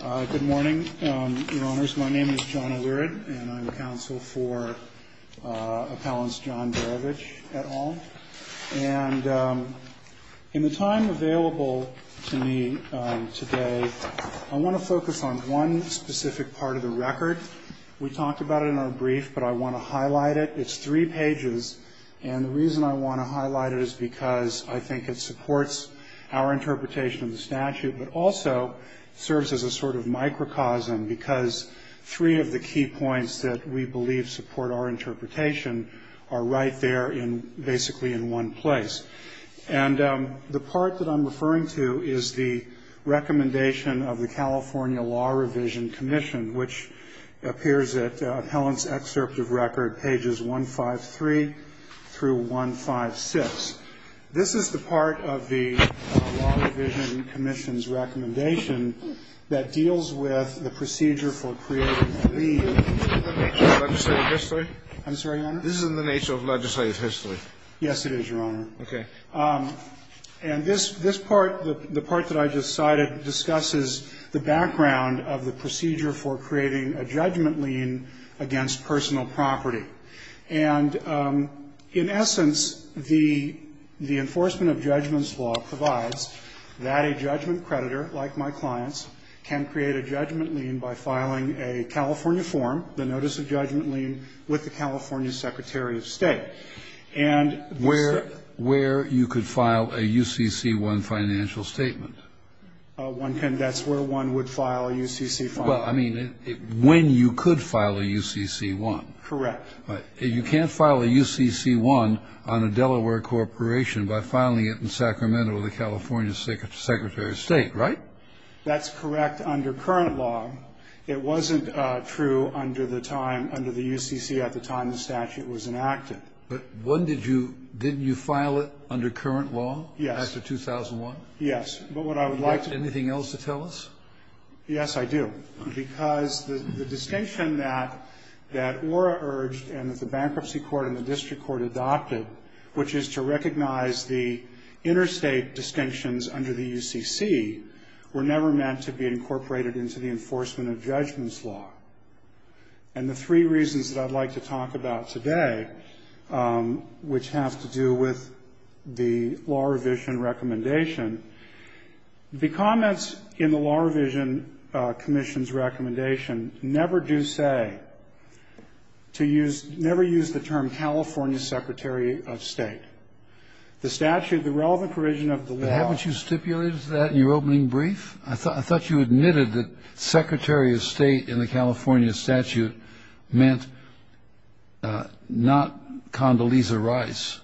Good morning, Your Honors. My name is John O'Leary, and I'm counsel for Appellant John Barovich, et al. And in the time available to me today, I want to focus on one specific part of the record. We talked about it in our brief, but I want to highlight it. It's three pages, and the reason I want to highlight it is because I think it supports our interpretation of the statute but also serves as a sort of microcosm because three of the key points that we believe support our interpretation are right there basically in one place. And the part that I'm referring to is the recommendation of the California Law Revision Commission, which appears at Appellant's excerpt of record, pages 153 through 156. This is the part of the Law Revision Commission's recommendation that deals with the procedure for creating a lien. This is in the nature of legislative history? I'm sorry, Your Honor? This is in the nature of legislative history. Yes, it is, Your Honor. Okay. And this part, the part that I just cited, discusses the background of the procedure for creating a judgment lien against personal property. And in essence, the enforcement of judgments law provides that a judgment creditor, like my clients, can create a judgment lien by filing a California form, the notice of judgment lien, with the California Secretary of State. And Mr. ---- Where you could file a UCC-1 financial statement. One can. That's where one would file a UCC-1. Well, I mean, when you could file a UCC-1. Correct. You can't file a UCC-1 on a Delaware corporation by filing it in Sacramento, the California Secretary of State, right? That's correct under current law. It wasn't true under the time, under the UCC at the time the statute was enacted. But when did you, didn't you file it under current law? Yes. After 2001? Yes. But what I would like to. Do you have anything else to tell us? Yes, I do. Because the distinction that ORA urged and that the bankruptcy court and the district court adopted, which is to recognize the interstate distinctions under the UCC, were never meant to be incorporated into the enforcement of judgments law. And the three reasons that I'd like to talk about today, which have to do with the law revision recommendation, the comments in the law revision commission's recommendation never do say to use, never use the term California Secretary of State. The statute, the relevant provision of the law. But haven't you stipulated that in your opening brief? I thought you admitted that Secretary of State in the California statute meant not Condoleezza Rice,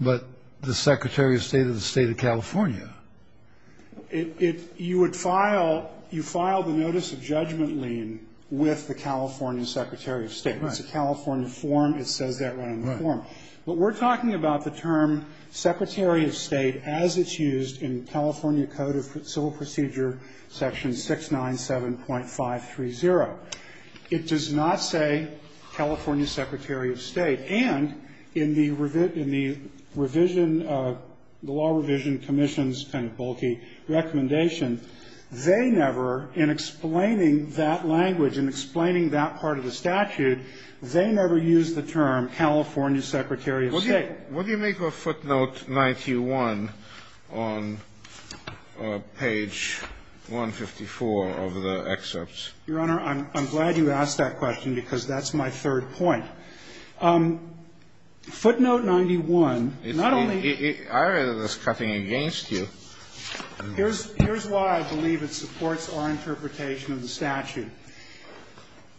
but the Secretary of State of the State of California. It, it, you would file, you file the notice of judgment lien with the California Secretary of State. Right. It's a California form. It says that right on the form. Right. But we're talking about the term Secretary of State as it's used in California Code of Civil Procedure section 697.530. It does not say California Secretary of State. And in the revision, in the revision, the law revision commission's kind of bulky recommendation, they never, in explaining that language and explaining that part of the statute, they never use the term California Secretary of State. What do you make of footnote 91 on page 154 of the excerpts? Your Honor, I'm, I'm glad you asked that question because that's my third point. Footnote 91, not only. I read it as cutting against you. Here's, here's why I believe it supports our interpretation of the statute.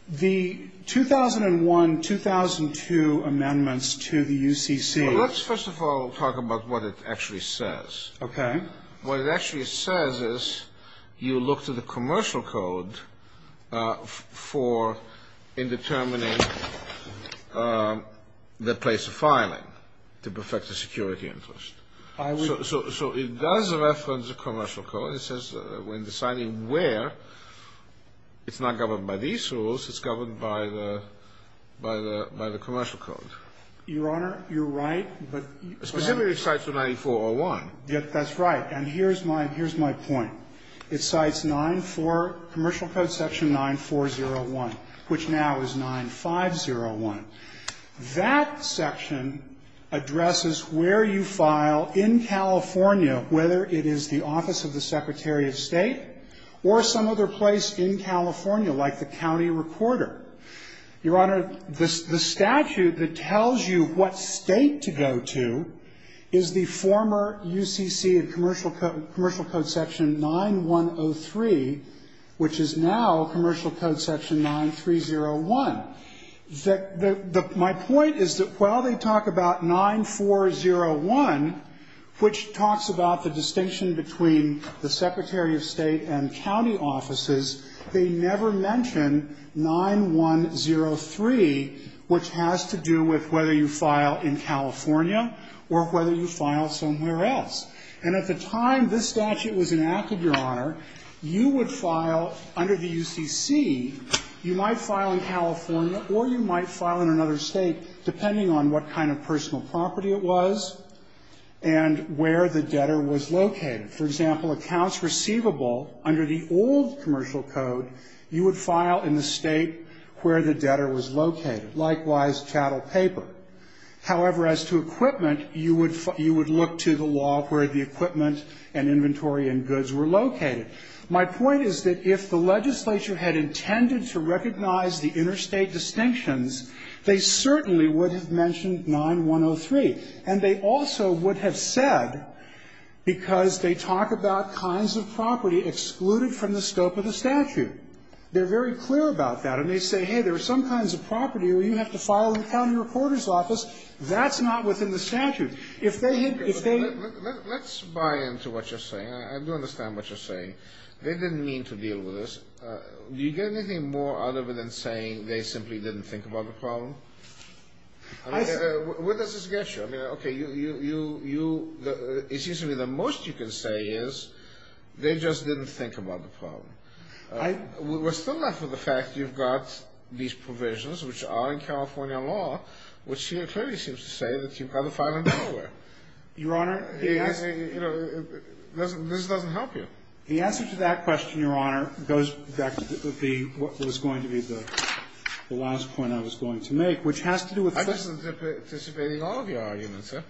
The 2001, 2002 amendments to the UCC. Well, let's first of all talk about what it actually says. Okay. What it actually says is you look to the commercial code for in determining the place of filing to perfect the security interest. I would. So, so it does reference the commercial code. It says when deciding where, it's not governed by these rules. It's governed by the, by the, by the commercial code. Your Honor, you're right, but. Specifically it cites the 9401. Yes, that's right. And here's my, here's my point. It cites 940, commercial code section 9401, which now is 9501. That section addresses where you file in California, whether it is the office of the Secretary of State or some other place in California, like the county recorder. Your Honor, the statute that tells you what State to go to is the former UCC and commercial code, commercial code section 9103, which is now commercial code section 9301. The, the, my point is that while they talk about 9401, which talks about the distinction between the Secretary of State and county offices, they never mention 9103, which has to do with whether you file in California or whether you file somewhere else. And at the time this statute was enacted, Your Honor, you would file under the UCC, you might file in California or you might file in another State, depending on what kind of personal property it was and where the debtor was located. For example, accounts receivable under the old commercial code, you would file in the State where the debtor was located, likewise, chattel paper. However, as to equipment, you would, you would look to the law where the equipment and inventory and goods were located. My point is that if the legislature had intended to recognize the interstate distinctions, they certainly would have mentioned 9103. And they also would have said, because they talk about kinds of property excluded from the scope of the statute, they're very clear about that. And they say, hey, there are some kinds of property where you have to file in the county reporter's office. That's not within the statute. If they had, if they had to. Kennedy. Let's buy into what you're saying. I do understand what you're saying. They didn't mean to deal with this. Do you get anything more out of it than saying they simply didn't think about the problem? I mean, where does this get you? I mean, okay, you, you, you, it seems to me the most you can say is they just didn't think about the problem. We're still left with the fact you've got these provisions, which are in California law, which clearly seems to say that you've got to file in Delaware. Your Honor. This doesn't help you. The answer to that question, Your Honor, goes back to the, what was going to be the last point I was going to make, which has to do with first. I'm just anticipating all of your arguments, sir.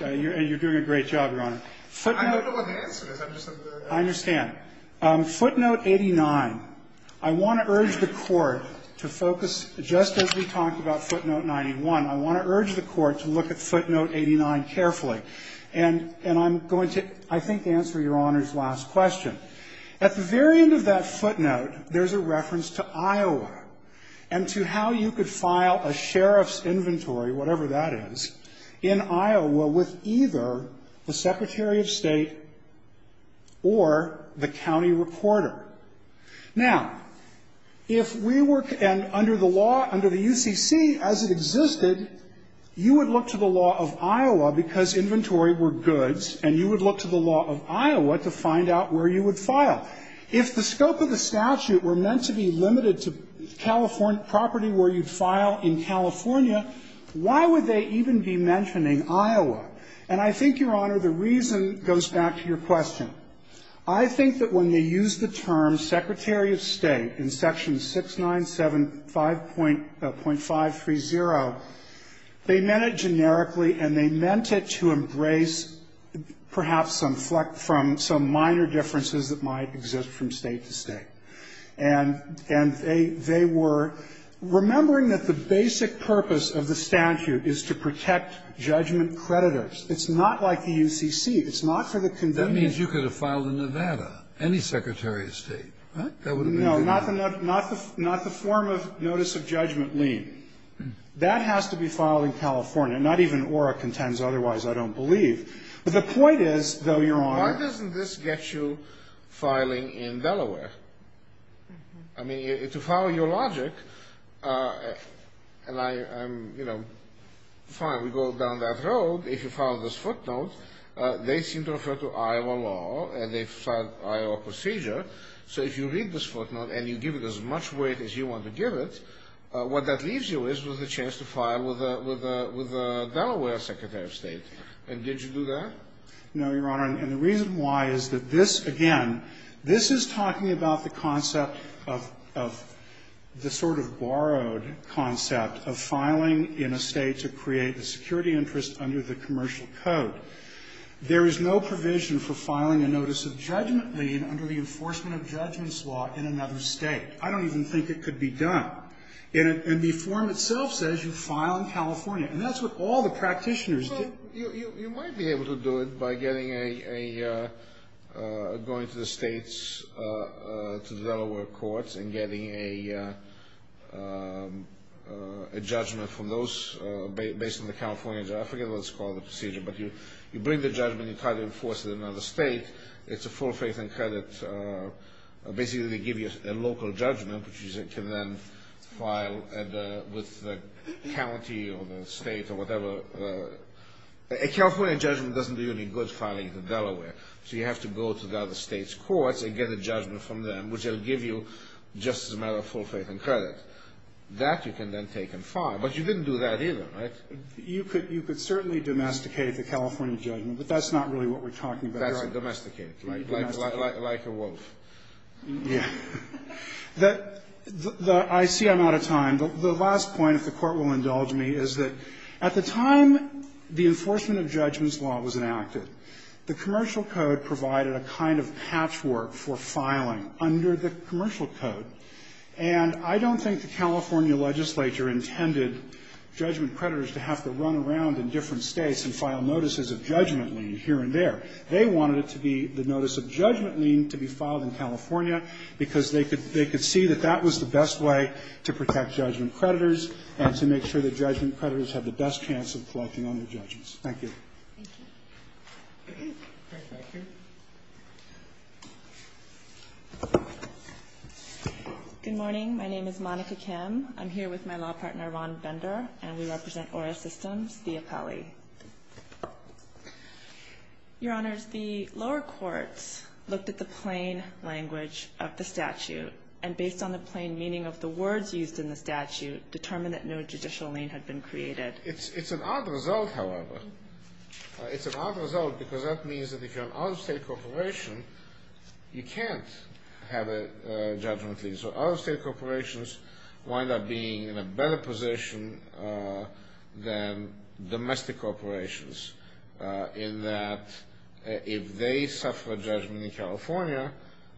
And you're doing a great job, Your Honor. I don't know what the answer is. I'm just. I understand. Footnote 89. I want to urge the Court to focus, just as we talked about footnote 91, I want to urge the Court to look at footnote 89 carefully. And, and I'm going to, I think, answer Your Honor's last question. At the very end of that footnote, there's a reference to Iowa and to how you could file a sheriff's inventory, whatever that is, in Iowa with either the Secretary of State or the county reporter. Now, if we were, and under the law, under the UCC, as it existed, you would look to the law of Iowa because inventory were goods, and you would look to the law of Iowa to find out where you would file. If the scope of the statute were meant to be limited to California property where you'd file in California, why would they even be mentioning Iowa? And I think, Your Honor, the reason goes back to your question. I think that when they used the term Secretary of State in section 697.530, they meant it generically, and they meant it to embrace perhaps some minor differences that might exist from State to State. And they were remembering that the basic purpose of the statute is to protect judgment creditors. It's not like the UCC. It's not for the convenience. That means you could have filed in Nevada, any Secretary of State, right? That would have been good enough. No, not the form of notice of judgment lien. That has to be filed in California. Not even ORA contends otherwise, I don't believe. But the point is, though, Your Honor. Why doesn't this get you filing in Delaware? I mean, to follow your logic, and I'm, you know, fine, we go down that road. If you file this footnote, they seem to refer to Iowa law, and they file Iowa procedure. So if you read this footnote and you give it as much weight as you want to give it, what that leaves you is with a chance to file with a Delaware Secretary of State. And did you do that? No, Your Honor. And the reason why is that this, again, this is talking about the concept of the sort of borrowed concept of filing in a State to create a security interest under the commercial code. There is no provision for filing a notice of judgment lien under the enforcement of judgments law in another State. I don't even think it could be done. And the form itself says you file in California. And that's what all the practitioners do. So you might be able to do it by getting a, going to the States to the Delaware courts and getting a judgment from those based on the California, I forget what it's called, the procedure. But you bring the judgment, you try to enforce it in another State, it's a full faith and credit. Basically, they give you a local judgment, which you can then file with the county or the State or whatever. A California judgment doesn't do you any good filing it in Delaware. So you have to go to the other States courts and get a judgment from them, which they'll give you just as a matter of full faith and credit. That you can then take and file. But you didn't do that either, right? You could certainly domesticate the California judgment, but that's not really what we're talking about here. It's like domesticate, like a wolf. Yeah. I see I'm out of time. The last point, if the Court will indulge me, is that at the time the enforcement of judgment's law was enacted, the commercial code provided a kind of patchwork for filing under the commercial code. And I don't think the California legislature intended judgment creditors to have to run around in different States and file notices of judgment here and there. They wanted it to be the notice of judgment lien to be filed in California because they could see that that was the best way to protect judgment creditors and to make sure that judgment creditors have the best chance of collecting on their judgments. Thank you. Thank you. Craig Becker. Good morning. My name is Monica Kim. I'm here with my law partner, Ron Bender, and we represent Aura Systems, the appellee. Your Honors, the lower courts looked at the plain language of the statute, and based on the plain meaning of the words used in the statute, determined that no judicial lien had been created. It's an odd result, however. It's an odd result because that means that if you're an out-of-state corporation, you can't have a judgment lien. So out-of-state corporations wind up being in a better position than domestic corporations in that if they suffer a judgment in California,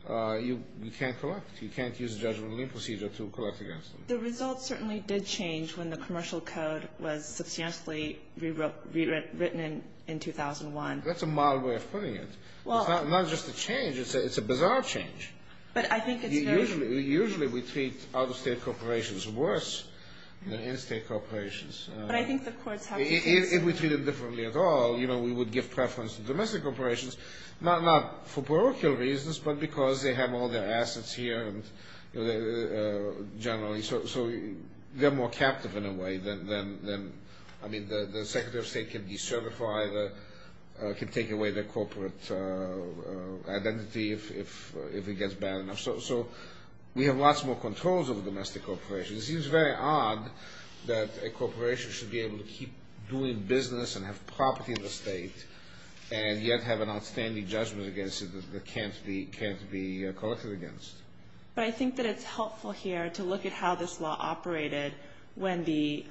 you can't collect. You can't use a judgment lien procedure to collect against them. The results certainly did change when the commercial code was substantially rewritten in 2001. That's a mild way of putting it. It's not just a change. It's a bizarre change. But I think it's very Usually we treat out-of-state corporations worse than in-state corporations. But I think the courts have to If we treat them differently at all, we would give preference to domestic corporations, not for parochial reasons, but because they have all their assets here generally. So they're more captive in a way than, I mean, the Secretary of State can decertify, can take away their corporate identity if it gets bad enough. So we have lots more controls over domestic corporations. It seems very odd that a corporation should be able to keep doing business and have property in the state and yet have an outstanding judgment against it that can't be collected against. But I think that it's helpful here to look at how this law operated when the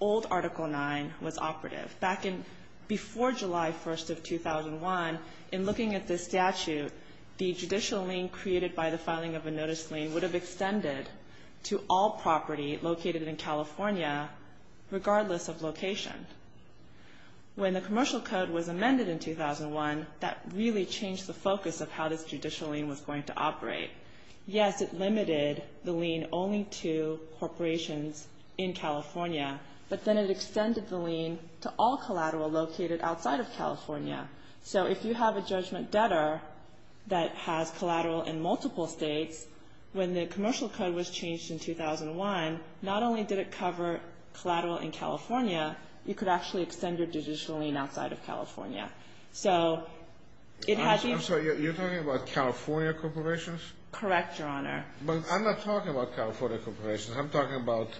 old Article 9 was operative. Back in before July 1st of 2001, in looking at this statute, the judicial lien created by the filing of a notice lien would have extended to all property located in California, regardless of location. When the Commercial Code was amended in 2001, that really changed the focus of how this judicial lien was going to operate. Yes, it limited the lien only to corporations in California, but then it extended the lien to all collateral located outside of California. So if you have a judgment debtor that has collateral in multiple states, when the Commercial Code was changed in 2001, not only did it cover collateral in California, you could actually extend your judicial lien outside of California. I'm sorry, you're talking about California corporations? Correct, Your Honor. But I'm not talking about California corporations. I'm talking about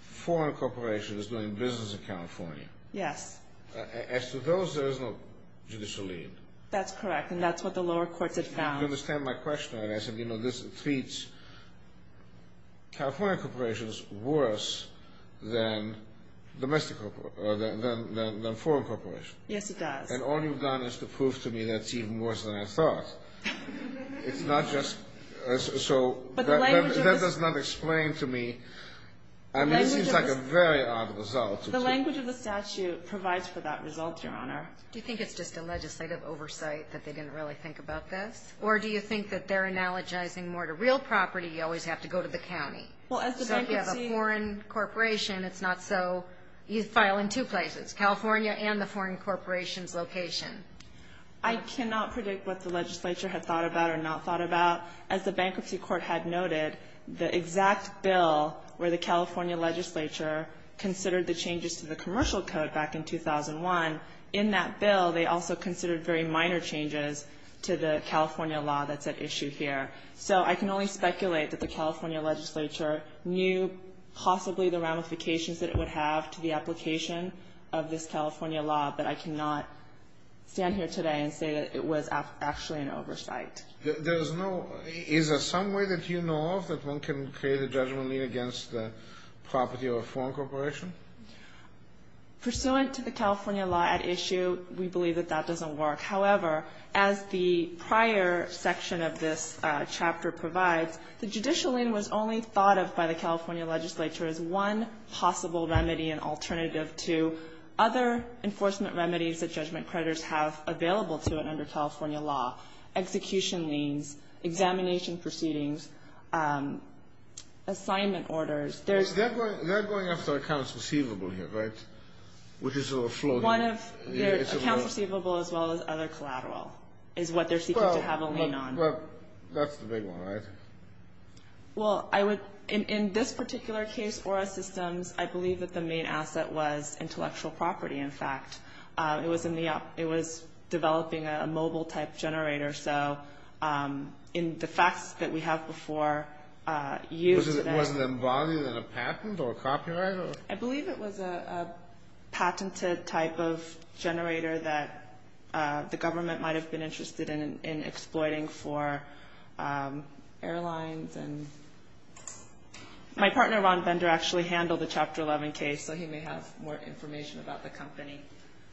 foreign corporations doing business in California. Yes. As to those, there is no judicial lien. That's correct, and that's what the lower courts have found. You understand my question, I guess. You know, this treats California corporations worse than domestic corporations, than foreign corporations. Yes, it does. And all you've done is to prove to me that it's even worse than I thought. It's not just, so that does not explain to me. I mean, it seems like a very odd result. The language of the statute provides for that result, Your Honor. Do you think it's just a legislative oversight that they didn't really think about this? Or do you think that they're analogizing more to real property, you always have to go to the county? Well, as the bankruptcy. So if you have a foreign corporation, it's not so, you file in two places, California and the foreign corporation's location. I cannot predict what the legislature had thought about or not thought about. As the Bankruptcy Court had noted, the exact bill where the California legislature considered the changes to the commercial code back in 2001. In that bill, they also considered very minor changes to the California law that's at issue here. So I can only speculate that the California legislature knew possibly the ramifications that it would have to the application of this California law, but I cannot stand here today and say that it was actually an oversight. There is no, is there some way that you know of that one can create a judgment lien against the property of a foreign corporation? Pursuant to the California law at issue, we believe that that doesn't work. However, as the prior section of this chapter provides, the judicial lien was only thought of by the California legislature as one possible remedy and alternative to other enforcement remedies that judgment creditors have available to them under assignment orders. They're going after accounts receivable here, right? Which is sort of floating. Accounts receivable as well as other collateral is what they're seeking to have a lien on. Well, that's the big one, right? Well, in this particular case, ORA Systems, I believe that the main asset was intellectual property, in fact. It was developing a mobile-type generator. So in the facts that we have before you. Wasn't it involved in a patent or a copyright? I believe it was a patented type of generator that the government might have been interested in exploiting for airlines. My partner, Ron Bender, actually handled the Chapter 11 case, so he may have more information about the company.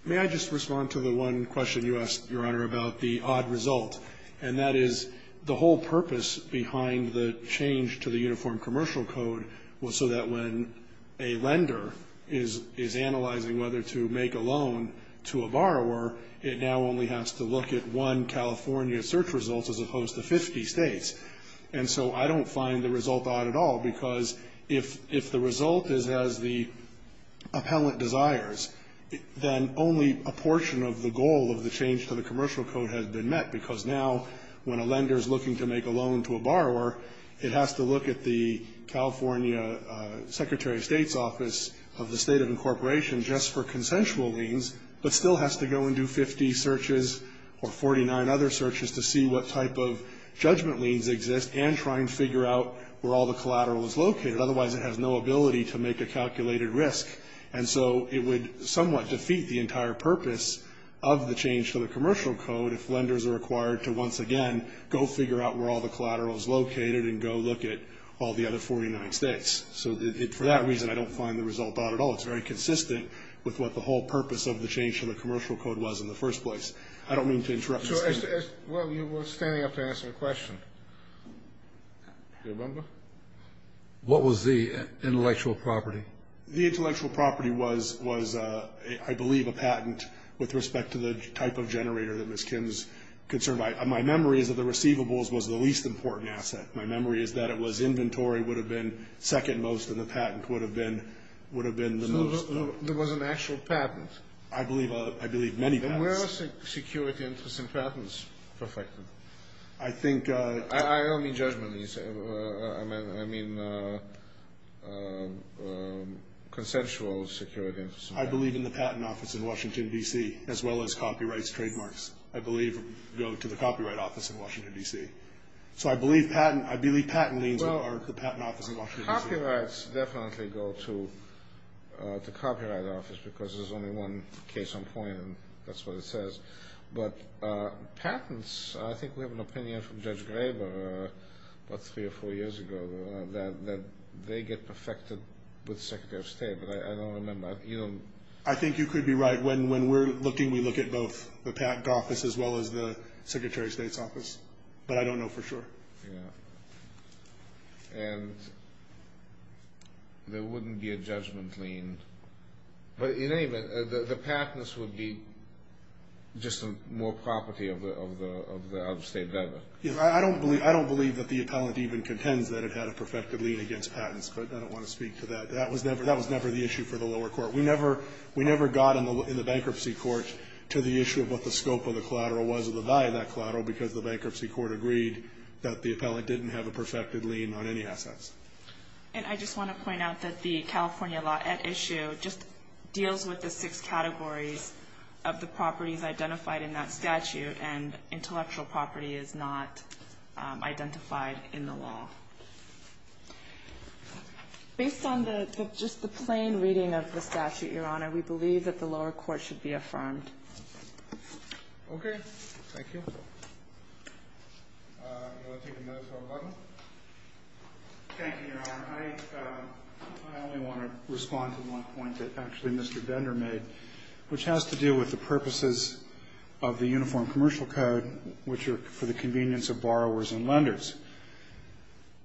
May I just respond to the one question you asked, Your Honor, about the odd result? And that is the whole purpose behind the change to the Uniform Commercial Code was so that when a lender is analyzing whether to make a loan to a borrower, it now only has to look at one California search result as opposed to 50 states. And so I don't find the result odd at all, because if the result is as the appellant desires, then only a portion of the goal of the change to the commercial code has been met, because now when a lender is looking to make a loan to a borrower, it has to look at the California Secretary of State's office of the State of Incorporation just for consensual liens, but still has to go and do 50 searches or 49 other searches to see what type of judgment liens exist and try and figure out where all the collateral is located. Otherwise, it has no ability to make a calculated risk. And so it would somewhat defeat the entire purpose of the change to the commercial code if lenders are required to once again go figure out where all the collateral is located and go look at all the other 49 states. So for that reason, I don't find the result odd at all. It's very consistent with what the whole purpose of the change to the commercial code was in the first place. I don't mean to interrupt. Well, you were standing up to answer the question. Your Honor? What was the intellectual property? The intellectual property was, I believe, a patent with respect to the type of generator that Ms. Kim's concerned about. My memory is that the receivables was the least important asset. My memory is that it was inventory would have been second most and the patent would have been the most. So there was an actual patent? I believe many patents. Where are security interests and patents affected? I don't mean judgment. I mean consensual security interests. I believe in the patent office in Washington, D.C., as well as copyrights, trademarks, I believe, go to the copyright office in Washington, D.C. So I believe patent means are the patent office in Washington, D.C. Copyrights definitely go to the copyright office because there's only one case on point and that's what it says. But patents, I think we have an opinion from Judge Graber about three or four years ago that they get perfected with Secretary of State, but I don't remember. I think you could be right. When we're looking, we look at both the patent office as well as the Secretary of State's office, but I don't know for sure. Yeah. And there wouldn't be a judgment lien. But in any event, the patents would be just more property of the out-of-state veteran. I don't believe that the appellant even contends that it had a perfected lien against patents, but I don't want to speak to that. That was never the issue for the lower court. We never got in the bankruptcy court to the issue of what the scope of the collateral was or the value of that collateral because the bankruptcy court agreed that the appellant didn't have a perfected lien on any assets. And I just want to point out that the California law at issue just deals with the six categories of the properties identified in that statute, and intellectual property is not identified in the law. Based on just the plain reading of the statute, Your Honor, we believe that the lower court should be affirmed. Okay. Thank you. You want to take another phone call? Thank you, Your Honor. I only want to respond to one point that actually Mr. Bender made, which has to do with the purposes of the Uniform Commercial Code, which are for the convenience of borrowers and lenders.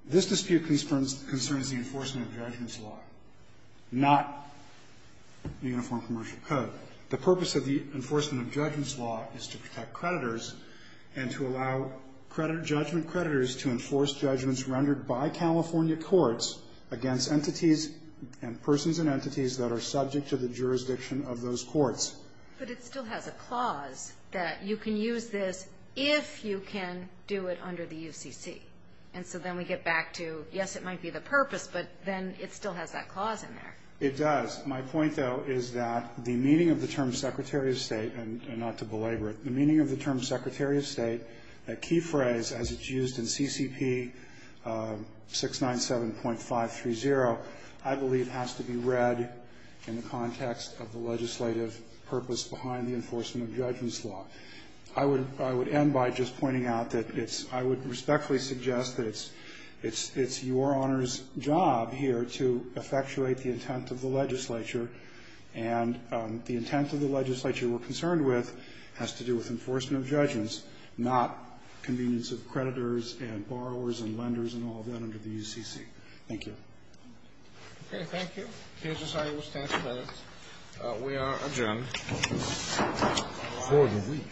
This dispute concerns the enforcement of judgments law, not the Uniform Commercial Code. The purpose of the enforcement of judgments law is to protect creditors and to allow judgment creditors to enforce judgments rendered by California courts against entities and persons and entities that are subject to the jurisdiction of those courts. But it still has a clause that you can use this if you can do it under the UCC. And so then we get back to, yes, it might be the purpose, but then it still has that clause in there. It does. The meaning of the term Secretary of State, a key phrase as it's used in CCP 697.530, I believe has to be read in the context of the legislative purpose behind the enforcement of judgments law. I would end by just pointing out that I would respectfully suggest that it's Your Honor's job here to effectuate the intent of the legislature, and the intent of the legislature we're concerned with has to do with enforcement of judgments, not convenience of creditors and borrowers and lenders and all that under the UCC. Thank you. Okay. Thank you. The HSI will stand for that. We are adjourned for the week.